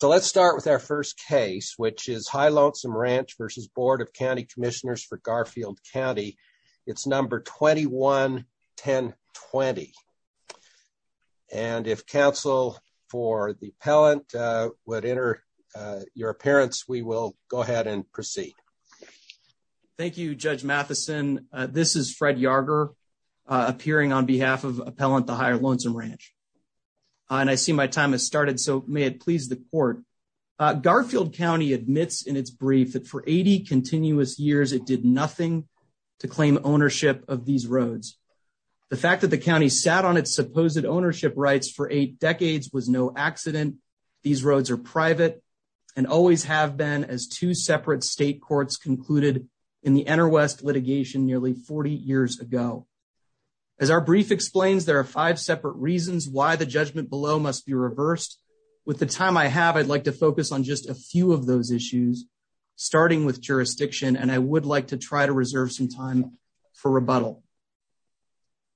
So let's start with our first case, which is High Lonesome Ranch v. Board of County Commissioners for Garfield County. It's number 21-1020, and if counsel for the appellant would enter your appearance, we will go ahead and proceed. Thank you, Judge Matheson. This is Fred Yarger appearing on behalf of appellant, the High Lonesome Ranch. And I see my time has started, so may it please the court. Garfield County admits in its brief that for 80 continuous years, it did nothing to claim ownership of these roads. The fact that the county sat on its supposed ownership rights for eight decades was no accident. These roads are private and always have been as two separate state courts concluded in the interwest litigation nearly 40 years ago. As our brief explains, there are five separate reasons why the judgment below must be reversed. With the time I have, I'd like to focus on just a few of those issues, starting with jurisdiction, and I would like to try to reserve some time for rebuttal.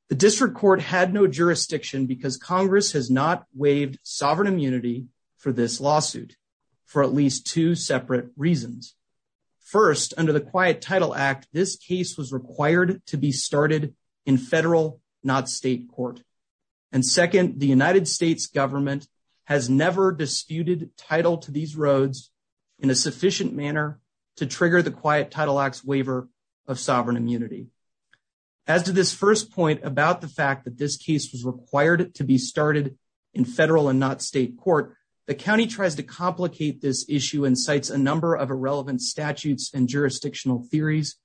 The district court had no jurisdiction because Congress has not waived sovereign immunity for this lawsuit for at least two separate reasons. First, under the Quiet Title Act, this case was required to be started in federal, not state court. And second, the United States government has never disputed title to these roads in a sufficient manner to trigger the Quiet Title Act's waiver of sovereign immunity. As to this first point about the fact that this case was required to be started in federal and not state court, the county tries to complicate this issue and cites a number of irrelevant statutes and jurisdictional theories.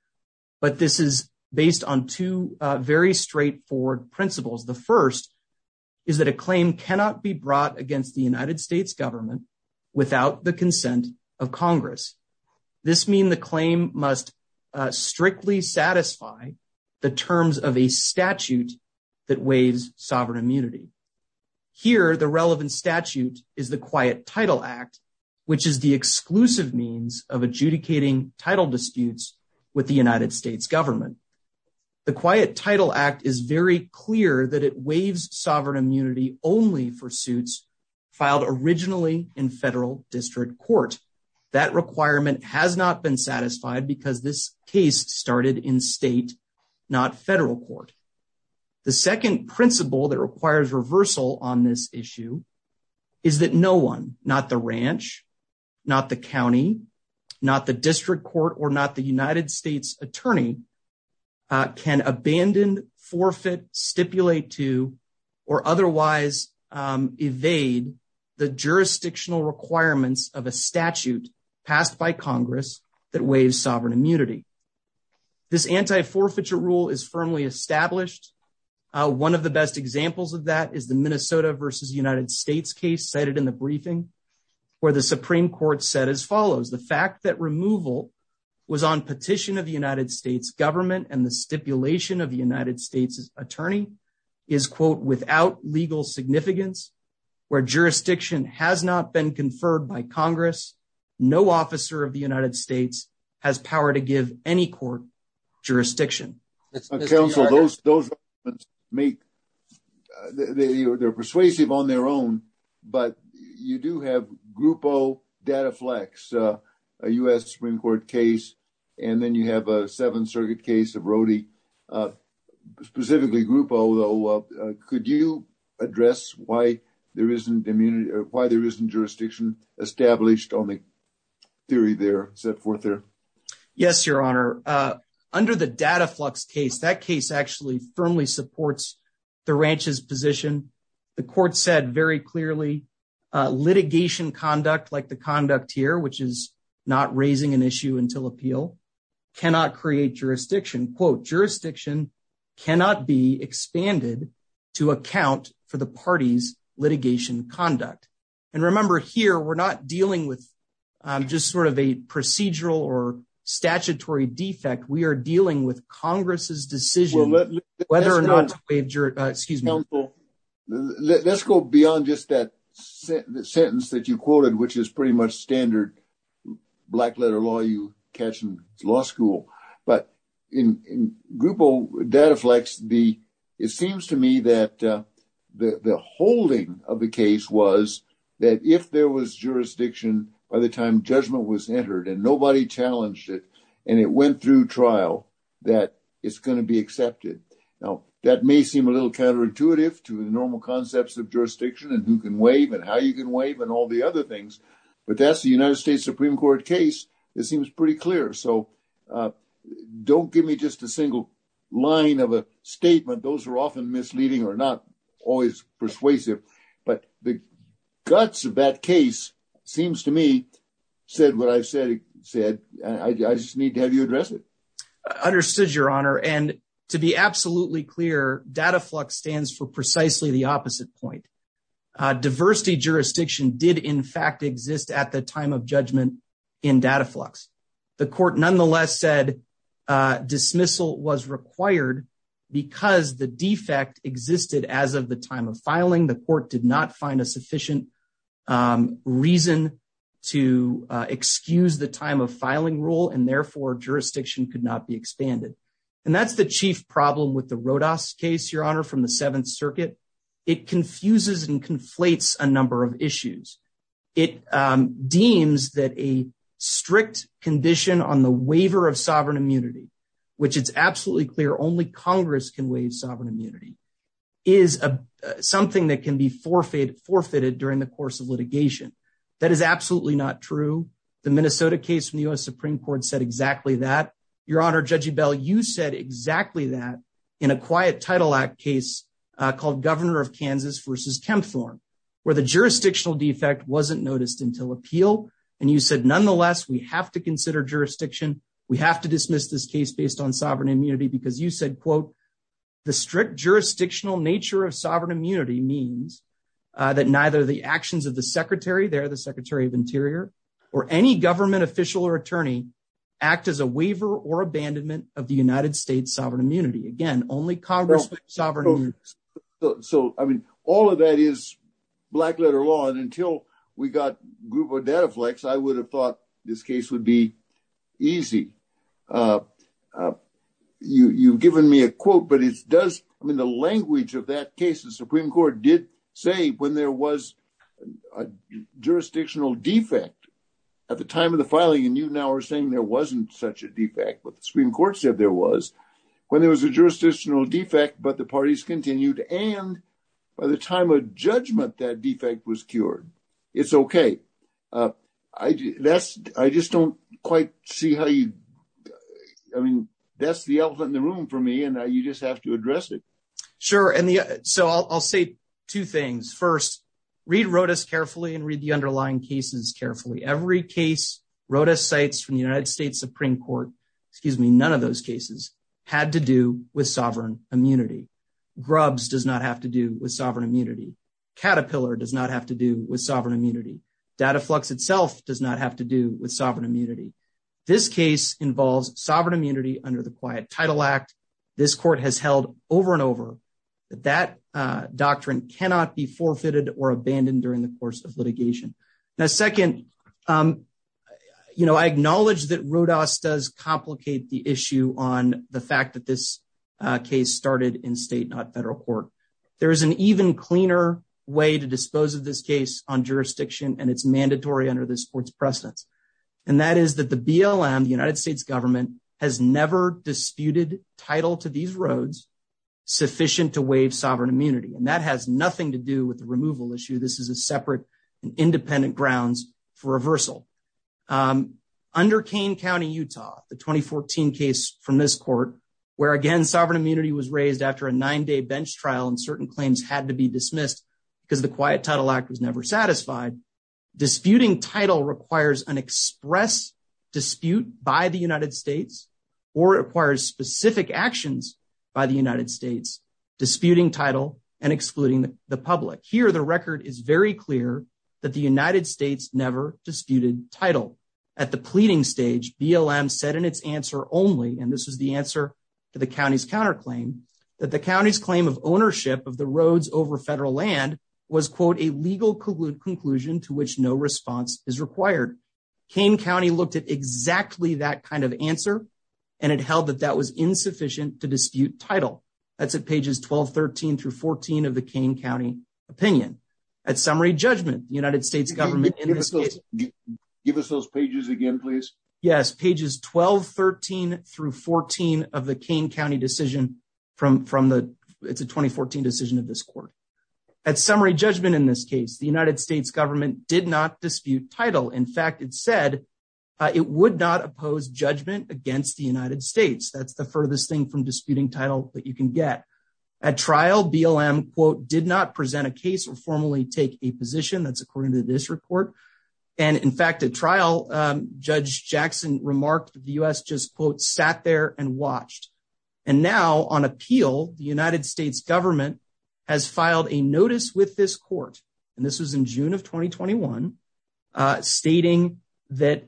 But this is based on two very straightforward principles. The first is that a claim cannot be brought against the United States government without the consent of Congress. This means the claim must strictly satisfy the terms of a statute that waives sovereign immunity. Here, the relevant statute is the Quiet Title Act, which is the exclusive means of adjudicating title disputes with the United States government. The Quiet Title Act is very clear that it waives sovereign immunity only for suits filed originally in federal district court. That requirement has not been satisfied because this case started in state, not federal court. The second principle that requires reversal on this issue is that no one, not the ranch, not the county, not the district court, or not the United States attorney, can abandon, forfeit, stipulate to, or otherwise evade the jurisdictional requirements of a statute passed by Congress that waives sovereign immunity. This anti-forfeiture rule is firmly established. One of the best examples of that is the Minnesota v. United States case cited in the briefing, where the Supreme Court said as follows, the fact that removal was on petition of the United States government and the stipulation of the United States attorney is, quote, without legal significance, where jurisdiction has not been conferred by Congress, no officer of the United States has power to give any court jurisdiction. Counsel, those make, they're persuasive on their own, but you do have Grupo Dataflex, a U.S. Supreme Court case, and then you have a Seventh Circuit case of Rody, specifically Grupo. Could you address why there isn't immunity or why there isn't jurisdiction established on the theory there, set forth there? Yes, Your Honor. Under the Dataflex case, that case actually firmly supports the ranch's position. The court said very clearly, litigation conduct like the conduct here, which is not raising an issue until appeal, cannot create jurisdiction. Quote, jurisdiction cannot be expanded to account for the party's litigation conduct. And remember here, we're not dealing with just sort of a procedural or statutory defect. We are dealing with Congress's decision whether or not to waive jurisdiction. Let's go beyond just that sentence that you quoted, which is pretty much standard black letter law you catch in law school. But in Grupo Dataflex, it seems to me that the holding of the case was that if there was jurisdiction by the time judgment was entered and nobody challenged it and it went through trial, that it's going to be accepted. Now, that may seem a little counterintuitive to the normal concepts of jurisdiction and who can waive and how you can waive and all the other things. But that's the United States Supreme Court case. It seems pretty clear. So don't give me just a single line of a statement. Those are often misleading or not always persuasive. But the guts of that case seems to me, said what I said, said, I just need to have you address it. And to be absolutely clear, Dataflex stands for precisely the opposite point. Diversity jurisdiction did, in fact, exist at the time of judgment in Dataflex. The court nonetheless said dismissal was required because the defect existed as of the time of filing. The court did not find a sufficient reason to excuse the time of filing rule and therefore jurisdiction could not be expanded. And that's the chief problem with the Rodas case, Your Honor, from the Seventh Circuit. It confuses and conflates a number of issues. It deems that a strict condition on the waiver of sovereign immunity, which it's absolutely clear only Congress can waive sovereign immunity, is something that can be forfeited during the course of litigation. That is absolutely not true. The Minnesota case from the U.S. Supreme Court said exactly that. Your Honor, Judge Ebell, you said exactly that in a quiet Title Act case called Governor of Kansas v. Kempthorne, where the jurisdictional defect wasn't noticed until appeal. And you said, nonetheless, we have to consider jurisdiction. We have to dismiss this case based on sovereign immunity because you said, quote, The strict jurisdictional nature of sovereign immunity means that neither the actions of the Secretary there, the Secretary of Interior, or any government official or attorney act as a waiver or abandonment of the United States sovereign immunity. Again, only Congress can waive sovereign immunity. So, I mean, all of that is black letter law. And until we got Groupo Dataflex, I would have thought this case would be easy. You've given me a quote, but it does. I mean, the language of that case, the Supreme Court did say when there was a jurisdictional defect at the time of the filing, and you now are saying there wasn't such a defect. But the Supreme Court said there was when there was a jurisdictional defect, but the parties continued. And by the time of judgment, that defect was cured. It's OK. I just don't quite see how you I mean, that's the elephant in the room for me. And you just have to address it. Sure. And so I'll say two things. First, read Rodas carefully and read the underlying cases carefully. Every case Rodas cites from the United States Supreme Court, excuse me, none of those cases had to do with sovereign immunity. Grubs does not have to do with sovereign immunity. Caterpillar does not have to do with sovereign immunity. Dataflex itself does not have to do with sovereign immunity. This case involves sovereign immunity under the Quiet Title Act. This court has held over and over that that doctrine cannot be forfeited or abandoned during the course of litigation. Now, second, you know, I acknowledge that Rodas does complicate the issue on the fact that this case started in state, not federal court. There is an even cleaner way to dispose of this case on jurisdiction, and it's mandatory under this court's precedence. And that is that the BLM, the United States government, has never disputed title to these roads sufficient to waive sovereign immunity. And that has nothing to do with the removal issue. This is a separate and independent grounds for reversal. Under Kane County, Utah, the 2014 case from this court, where, again, sovereign immunity was raised after a nine-day bench trial and certain claims had to be dismissed because the Quiet Title Act was never satisfied, disputing title requires an express dispute by the United States or requires specific actions by the United States disputing title and excluding the public. Here, the record is very clear that the United States never disputed title. At the pleading stage, BLM said in its answer only, and this was the answer to the county's counterclaim, that the county's claim of ownership of the roads over federal land was, quote, a legal conclusion to which no response is required. Kane County looked at exactly that kind of answer, and it held that that was insufficient to dispute title. That's at pages 12, 13 through 14 of the Kane County opinion. At summary judgment, the United States government in this case… Give us those pages again, please. Yes, pages 12, 13 through 14 of the Kane County decision. It's a 2014 decision of this court. At summary judgment in this case, the United States government did not dispute title. In fact, it said it would not oppose judgment against the United States. That's the furthest thing from disputing title that you can get. At trial, BLM, quote, did not present a case or formally take a position. That's according to this report. And in fact, at trial, Judge Jackson remarked the U.S. just, quote, sat there and watched. And now, on appeal, the United States government has filed a notice with this court, and this was in June of 2021, stating that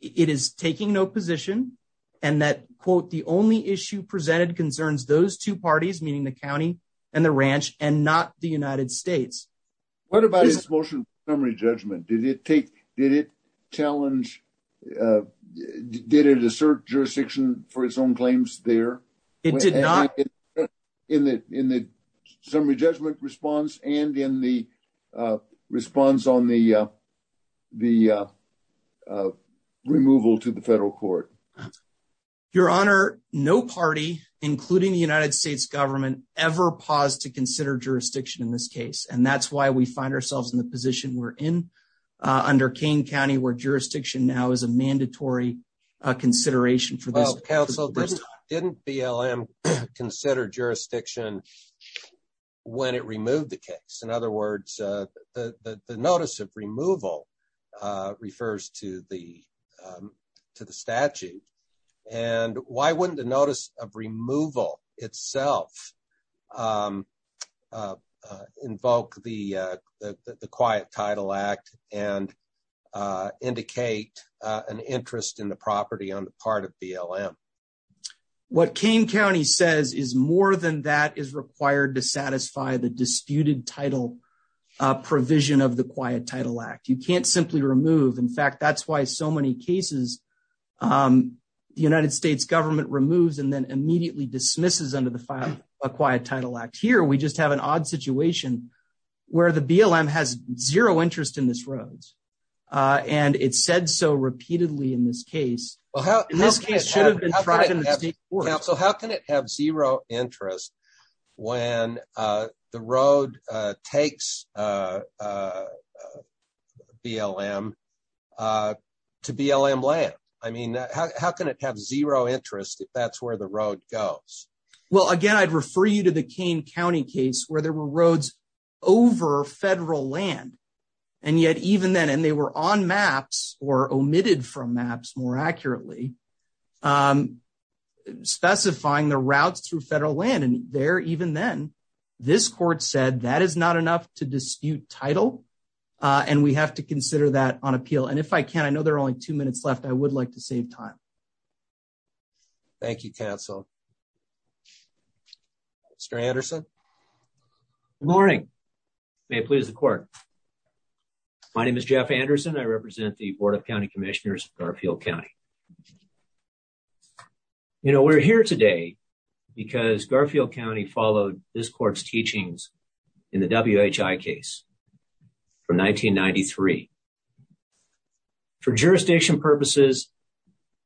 it is taking no position and that, quote, the only issue presented concerns those two parties, meaning the county and the ranch, and not the United States. What about its motion for summary judgment? Did it challenge… Did it assert jurisdiction for its own claims there? It did not. In the summary judgment response and in the response on the removal to the federal court? Your Honor, no party, including the United States government, ever paused to consider jurisdiction in this case. And that's why we find ourselves in the position we're in under Kane County, where jurisdiction now is a mandatory consideration for this. Didn't BLM consider jurisdiction when it removed the case? In other words, the notice of removal refers to the statute. And why wouldn't the notice of removal itself invoke the Quiet Title Act and indicate an interest in the property on the part of BLM? What Kane County says is more than that is required to satisfy the disputed title provision of the Quiet Title Act. You can't simply remove. In fact, that's why so many cases the United States government removes and then immediately dismisses under the Quiet Title Act. Here, we just have an odd situation where the BLM has zero interest in this road, and it said so repeatedly in this case. In this case, it should have been tracked in the state courts. So how can it have zero interest when the road takes BLM to BLM land? I mean, how can it have zero interest if that's where the road goes? Well, again, I'd refer you to the Kane County case where there were roads over federal land, and yet even then, and they were on maps or omitted from maps more accurately, specifying the routes through federal land. And there, even then, this court said that is not enough to dispute title, and we have to consider that on appeal. And if I can, I know there are only two minutes left. I would like to save time. Thank you, counsel. Mr. Anderson? Good morning. May it please the court. My name is Jeff Anderson. I represent the Board of County Commissioners of Garfield County. You know, we're here today because Garfield County followed this court's teachings in the WHI case from 1993. For jurisdiction purposes,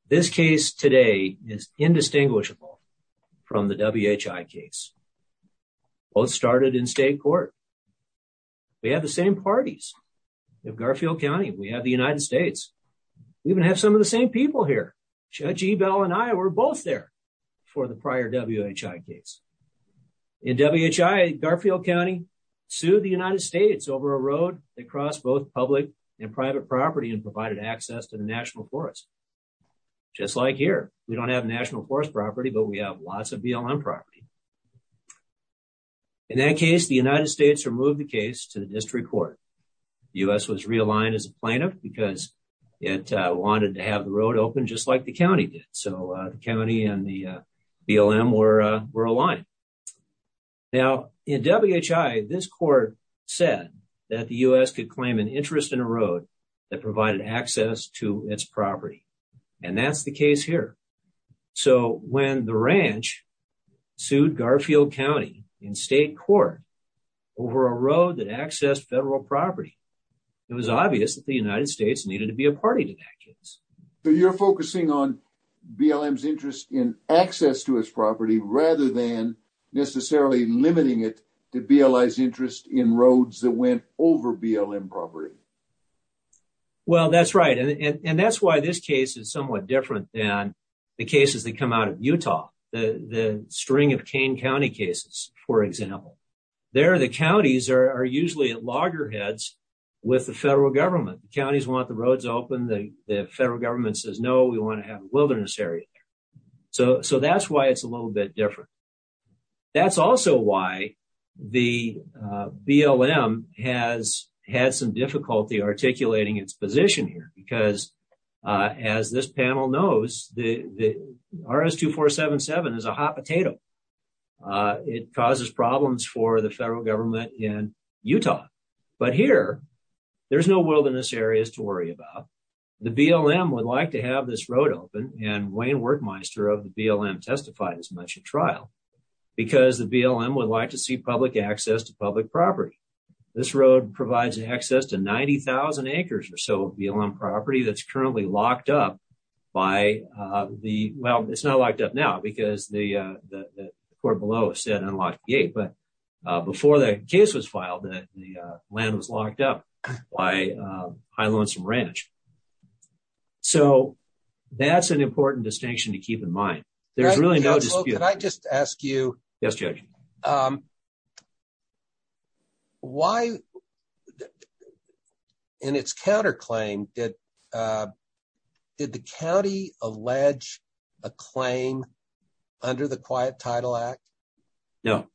this case today is indistinguishable from the WHI case. Both started in state court. We have the same parties of Garfield County. We have the United States. We even have some of the same people here. Judge Ebell and I were both there for the prior WHI case. In WHI, Garfield County sued the United States over a road that crossed both public and private property and provided access to the National Forest. Just like here. We don't have National Forest property, but we have lots of BLM property. In that case, the United States removed the case to the district court. The U.S. was realigned as a plaintiff because it wanted to have the road open just like the county did. So the county and the BLM were aligned. Now, in WHI, this court said that the U.S. could claim an interest in a road that provided access to its property. And that's the case here. So when the ranch sued Garfield County in state court over a road that accessed federal property, it was obvious that the United States needed to be a party to that case. So you're focusing on BLM's interest in access to its property rather than necessarily limiting it to BLI's interest in roads that went over BLM property. Well, that's right. And that's why this case is somewhat different than the cases that come out of Utah. The string of Kane County cases, for example. There, the counties are usually at loggerheads with the federal government. Counties want the roads open. The federal government says, no, we want to have a wilderness area. So that's why it's a little bit different. That's also why the BLM has had some difficulty articulating its position here, because as this panel knows, the RS-2477 is a hot potato. It causes problems for the federal government in Utah. But here, there's no wilderness areas to worry about. The BLM would like to have this road open and Wayne Workmeister of the BLM testified as much at trial because the BLM would like to see public access to public property. This road provides access to 90,000 acres or so of BLM property that's currently locked up by the, well, it's not locked up now because the court below said unlocked gate. But before that case was filed, the land was locked up by high lonesome ranch. So that's an important distinction to keep in mind. There's really no dispute. Can I just ask you? Yes, Judge. Why in its counterclaim, did the county allege a claim under the Quiet Title Act? No,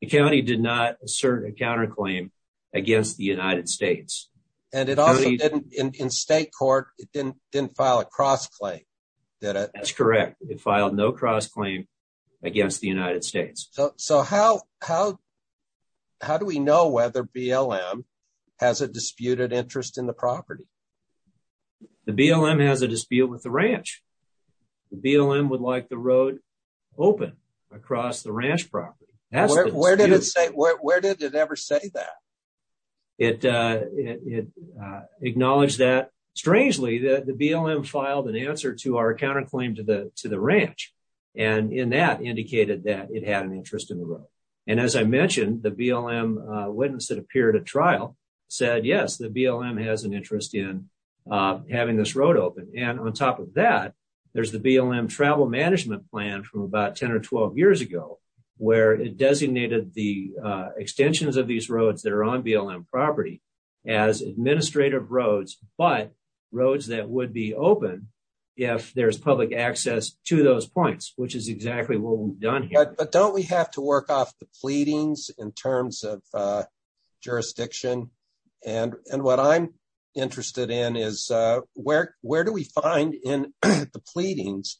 the county did not assert a counterclaim against the United States. And it also didn't, in state court, it didn't file a cross-claim, did it? That's correct. It filed no cross-claim against the United States. So how do we know whether BLM has a disputed interest in the property? The BLM has a dispute with the ranch. The BLM would like the road open across the ranch property. Where did it say, where did it ever say that? It acknowledged that, strangely, that the BLM filed an answer to our counterclaim to the ranch. And in that, indicated that it had an interest in the road. And as I mentioned, the BLM witness that appeared at trial said, yes, the BLM has an interest in having this road open. And on top of that, there's the BLM travel management plan from about 10 or 12 years ago, where it designated the extensions of these roads that are on BLM property as administrative roads, but roads that would be open if there's public access to those points, which is exactly what we've done. But don't we have to work off the pleadings in terms of jurisdiction? And what I'm interested in is where where do we find in the pleadings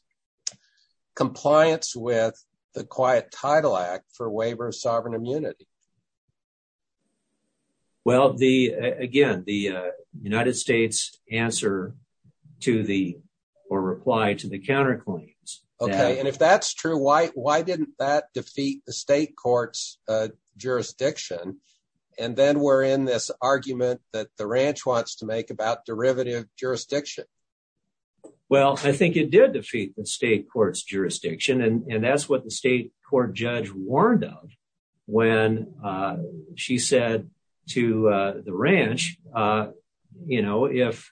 compliance with the Quiet Title Act for waiver of sovereign immunity? Well, the again, the United States answer to the or reply to the counterclaims. And if that's true, why why didn't that defeat the state court's jurisdiction? And then we're in this argument that the ranch wants to make about derivative jurisdiction. Well, I think it did defeat the state court's jurisdiction, and that's what the state court judge warned of when she said to the ranch, you know, if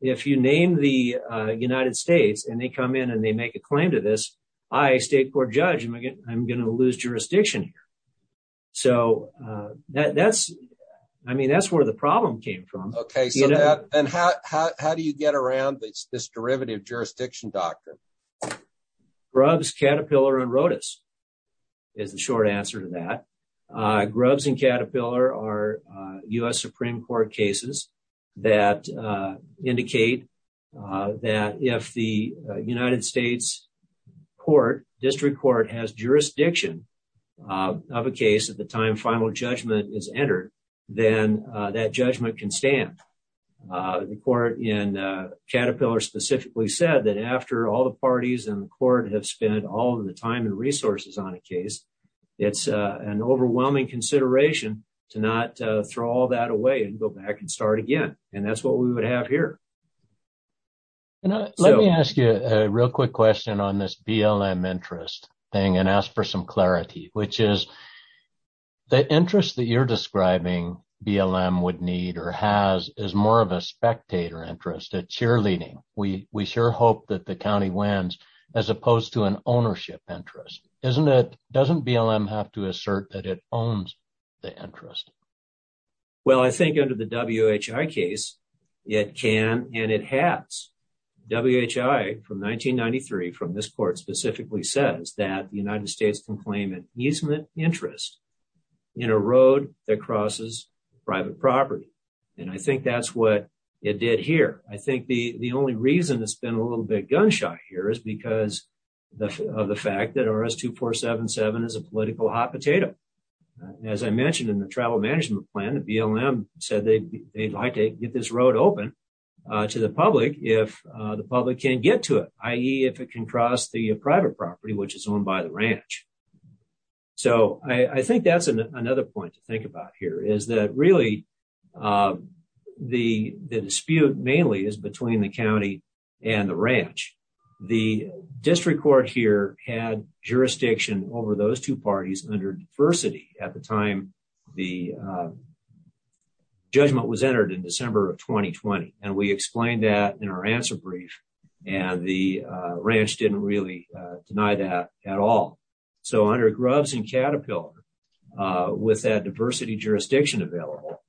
if you name the United States and they come in and they make a claim to this, I, a state court judge, I'm going to lose jurisdiction. So that's I mean, that's where the problem came from. OK, so and how do you get around this derivative jurisdiction doctrine? Grubbs, Caterpillar and Rodas is the short answer to that. Grubbs and Caterpillar are U.S. Supreme Court cases that indicate that if the United States court district court has jurisdiction of a case at the time, final judgment is entered, then that judgment can stand. The court in Caterpillar specifically said that after all the parties in the court have spent all of the time and resources on a case, it's an overwhelming consideration to not throw all that away and go back and start again. And that's what we would have here. And let me ask you a real quick question on this BLM interest thing and ask for some clarity, which is. The interest that you're describing BLM would need or has is more of a spectator interest at cheerleading. We we sure hope that the county wins as opposed to an ownership interest, isn't it? Doesn't BLM have to assert that it owns the interest? Well, I think under the W.H.I. case, it can and it has. W.H.I. from 1993 from this court specifically says that the United States can claim an easement interest in a road that crosses private property. And I think that's what it did here. I think the the only reason it's been a little bit gunshot here is because of the fact that RS 2477 is a political hot potato. But as I mentioned in the travel management plan, the BLM said they'd like to get this road open to the public if the public can get to it, i.e. if it can cross the private property, which is owned by the ranch. So I think that's another point to think about here is that really the the dispute mainly is between the county and the ranch. The district court here had jurisdiction over those two parties under diversity at the time the judgment was entered in December of 2020. And we explained that in our answer brief and the ranch didn't really deny that at all. So under Grubbs and Caterpillar, with that diversity jurisdiction available,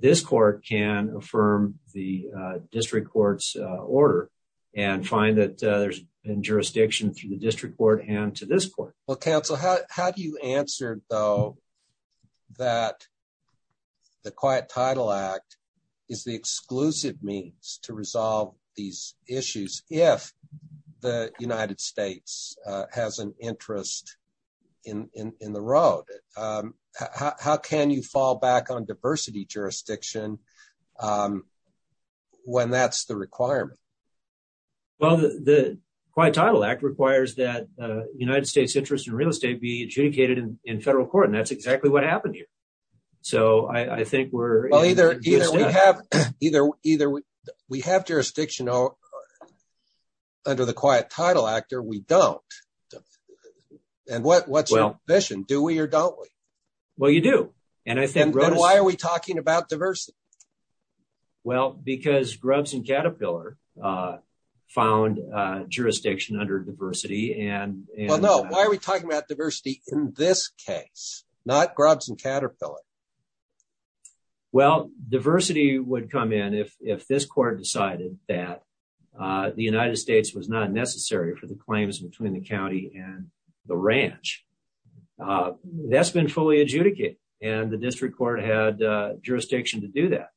this court can affirm the district court's order and find that there's jurisdiction through the district court and to this court. Well, counsel, how do you answer, though, that the Quiet Title Act is the exclusive means to resolve these issues if the United States has an interest in the road? How can you fall back on diversity jurisdiction when that's the requirement? Well, the Quiet Title Act requires that the United States interest in real estate be adjudicated in federal court, and that's exactly what happened here. So I think we're either we have jurisdiction under the Quiet Title Act or we don't. And what's your vision? Do we or don't we? Well, you do. And why are we talking about diversity? Well, because Grubbs and Caterpillar found jurisdiction under diversity. Well, no, why are we talking about diversity in this case, not Grubbs and Caterpillar? Well, diversity would come in if this court decided that the United States was not necessary for the claims between the county and the ranch. That's been fully adjudicated and the district court had jurisdiction to do that.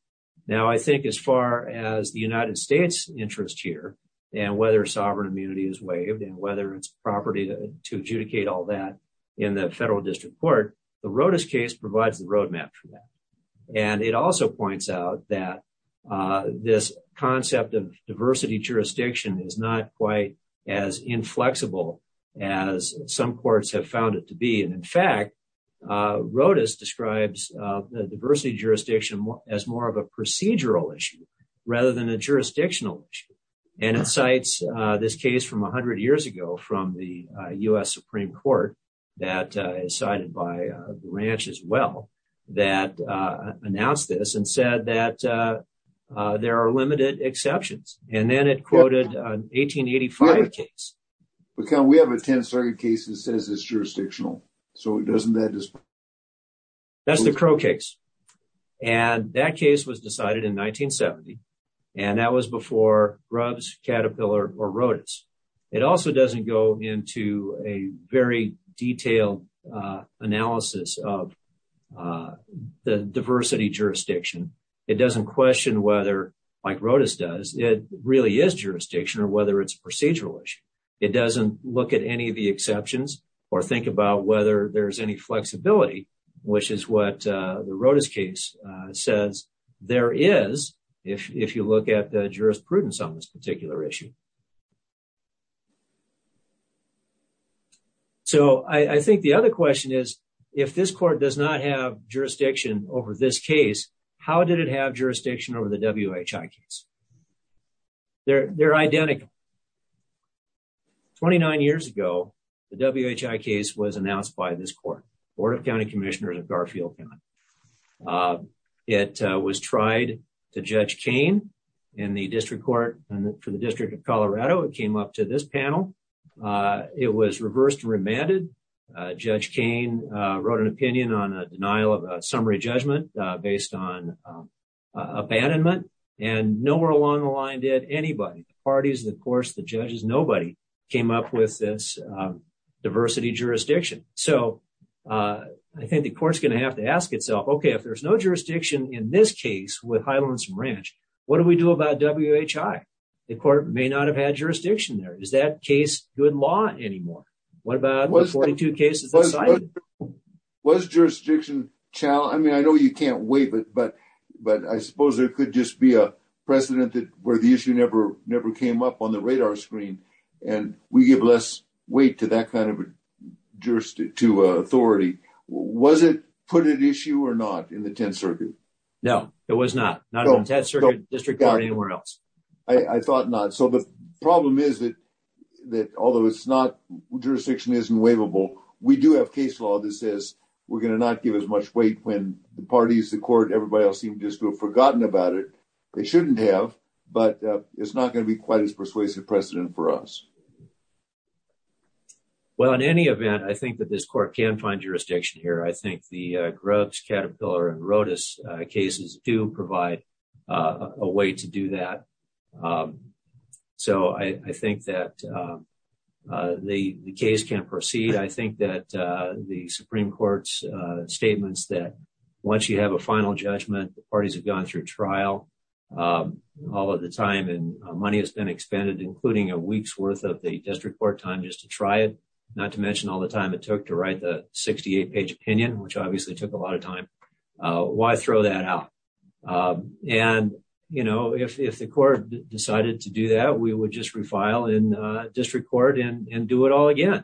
Now, I think as far as the United States interest here and whether sovereign immunity is waived and whether it's property to adjudicate all that in the federal district court, the Rodas case provides the roadmap for that. And it also points out that this concept of diversity jurisdiction is not quite as inflexible as some courts have found it to be. And in fact, Rodas describes the diversity jurisdiction as more of a procedural issue rather than a jurisdictional issue. And it cites this case from 100 years ago from the U.S. Supreme Court that is cited by the ranch as well, that announced this and said that there are limited exceptions. And then it quoted an 1885 case. But we have a 10th Circuit case that says it's jurisdictional. So doesn't that... That's the Crow case. And that case was decided in 1970. And that was before Grubbs, Caterpillar, or Rodas. It also doesn't go into a very detailed analysis of the diversity jurisdiction. It doesn't question whether, like Rodas does, it really is jurisdiction or whether it's procedural issue. It doesn't look at any of the exceptions or think about whether there's any flexibility, which is what the Rodas case says there is, if you look at the jurisprudence on this particular issue. So I think the other question is, if this court does not have jurisdiction over this case, how did it have jurisdiction over the WHI case? They're identical. 29 years ago, the WHI case was announced by this court, Board of County Commissioners of Garfield County. It was tried to Judge Kane in the District Court for the District of Colorado. It came up to this panel. It was reversed and remanded. Judge Kane wrote an opinion on a denial of summary judgment based on abandonment. And nowhere along the line did anybody, the parties, the courts, the judges, nobody came up with this diversity jurisdiction. So I think the court's going to have to ask itself, OK, if there's no jurisdiction in this case with Highlands and Ranch, what do we do about WHI? The court may not have had jurisdiction there. Is that case good law anymore? What about 42 cases? Was jurisdiction challenged? I mean, I know you can't wait, but I suppose there could just be a precedent where the issue never came up on the radar screen. And we give less weight to that kind of jurisdiction, to authority. Was it put at issue or not in the 10th Circuit? No, it was not. Not in the 10th Circuit, District Court or anywhere else. I thought not. So the problem is that although it's not, jurisdiction isn't waivable, we do have case law that says we're going to not give as much weight when the parties, the court, everybody else seems to have forgotten about it. They shouldn't have, but it's not going to be quite as persuasive precedent for us. Well, in any event, I think that this court can find jurisdiction here. I think the Grubbs, Caterpillar and Rodas cases do provide a way to do that. So I think that the case can proceed. I think that the Supreme Court's statements that once you have a final judgment, the parties have gone through trial all of the time and money has been expended, including a week's worth of the district court time just to try it. Not to mention all the time it took to write the 68 page opinion, which obviously took a lot of time. Why throw that out? And, you know, if the court decided to do that, we would just refile in district court and do it all again.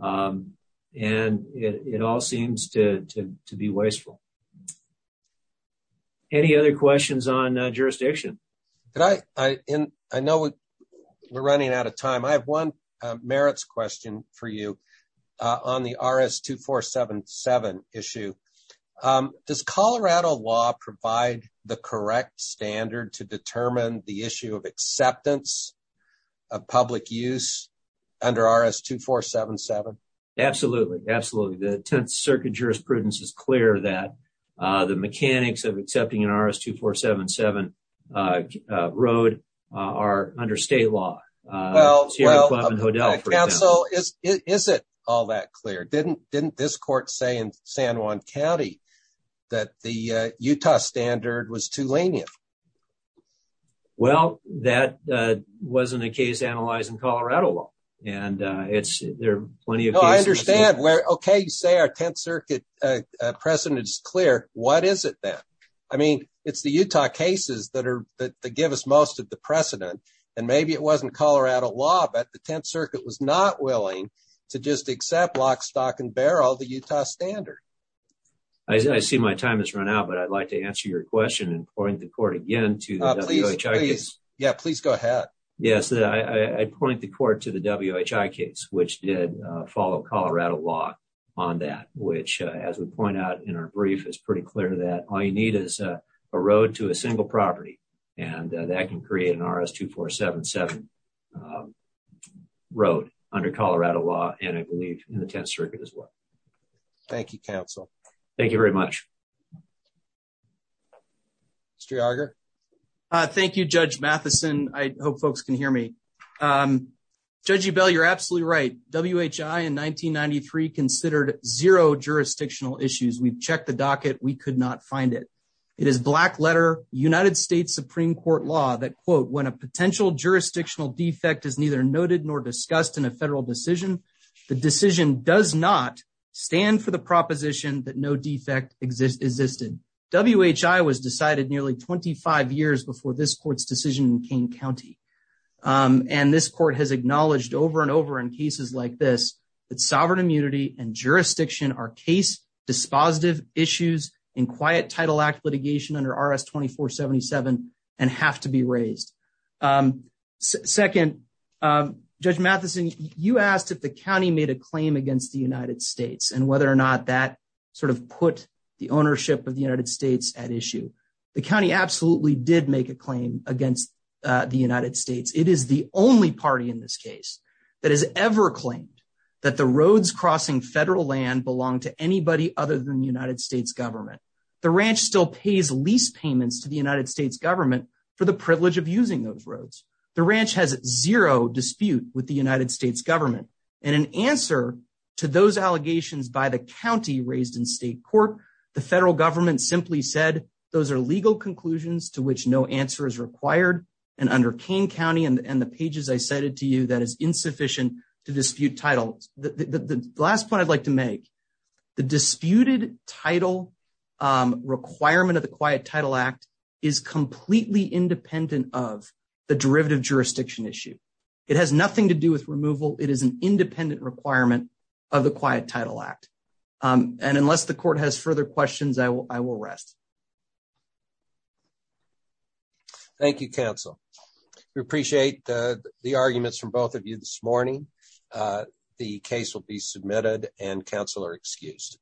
And it all seems to be wasteful. Any other questions on jurisdiction? I know we're running out of time. I have one merits question for you on the R.S. 2477 issue. Does Colorado law provide the correct standard to determine the issue of acceptance of public use under R.S. 2477? Absolutely, absolutely. The 10th Circuit jurisprudence is clear that the mechanics of accepting an R.S. 2477 road are under state law. Well, well, is it all that clear? Didn't didn't this court say in San Juan County that the Utah standard was too lenient? Well, that wasn't a case analyzed in Colorado law, and it's there. I understand where, OK, you say our 10th Circuit precedent is clear. What is it that I mean, it's the Utah cases that are that give us most of the precedent. And maybe it wasn't Colorado law, but the 10th Circuit was not willing to just accept lock, stock and barrel the Utah standard. I see my time has run out, but I'd like to answer your question and point the court again to please. Yeah, please go ahead. Yes. I point the court to the W.H.I. case, which did follow Colorado law on that, which, as we point out in our brief, is pretty clear that all you need is a road to a single property. And that can create an R.S. 2477 road under Colorado law. And I believe in the 10th Circuit as well. Thank you, counsel. Thank you very much. Mr. Arger, thank you, Judge Matheson. I hope folks can hear me. Judge Bell, you're absolutely right. W.H.I. in 1993 considered zero jurisdictional issues. We've checked the docket. We could not find it. It is black letter, United States Supreme Court law that, quote, when a potential jurisdictional defect is neither noted nor discussed in a federal decision, the decision does not stand for the proposition that no defect exist existed. W.H.I. was decided nearly 25 years before this court's decision in Kane County. And this court has acknowledged over and over in cases like this that sovereign immunity and jurisdiction are case dispositive issues in Quiet Title Act litigation under R.S. 2477 and have to be raised. Second, Judge Matheson, you asked if the county made a claim against the United States and whether or not that sort of put the ownership of the United States at issue. The county absolutely did make a claim against the United States. It is the only party in this case that has ever claimed that the roads crossing federal land belong to anybody other than the United States government. The ranch still pays lease payments to the United States government for the privilege of using those roads. The ranch has zero dispute with the United States government. And in answer to those allegations by the county raised in state court, the federal government simply said those are legal conclusions to which no answer is required. And under Kane County and the pages I cited to you, that is insufficient to dispute title. The last point I'd like to make, the disputed title requirement of the Quiet Title Act is completely independent of the derivative jurisdiction issue. It has nothing to do with removal. It is an independent requirement of the Quiet Title Act. And unless the court has further questions, I will rest. Thank you, counsel. We appreciate the arguments from both of you this morning. The case will be submitted and counsel are excused.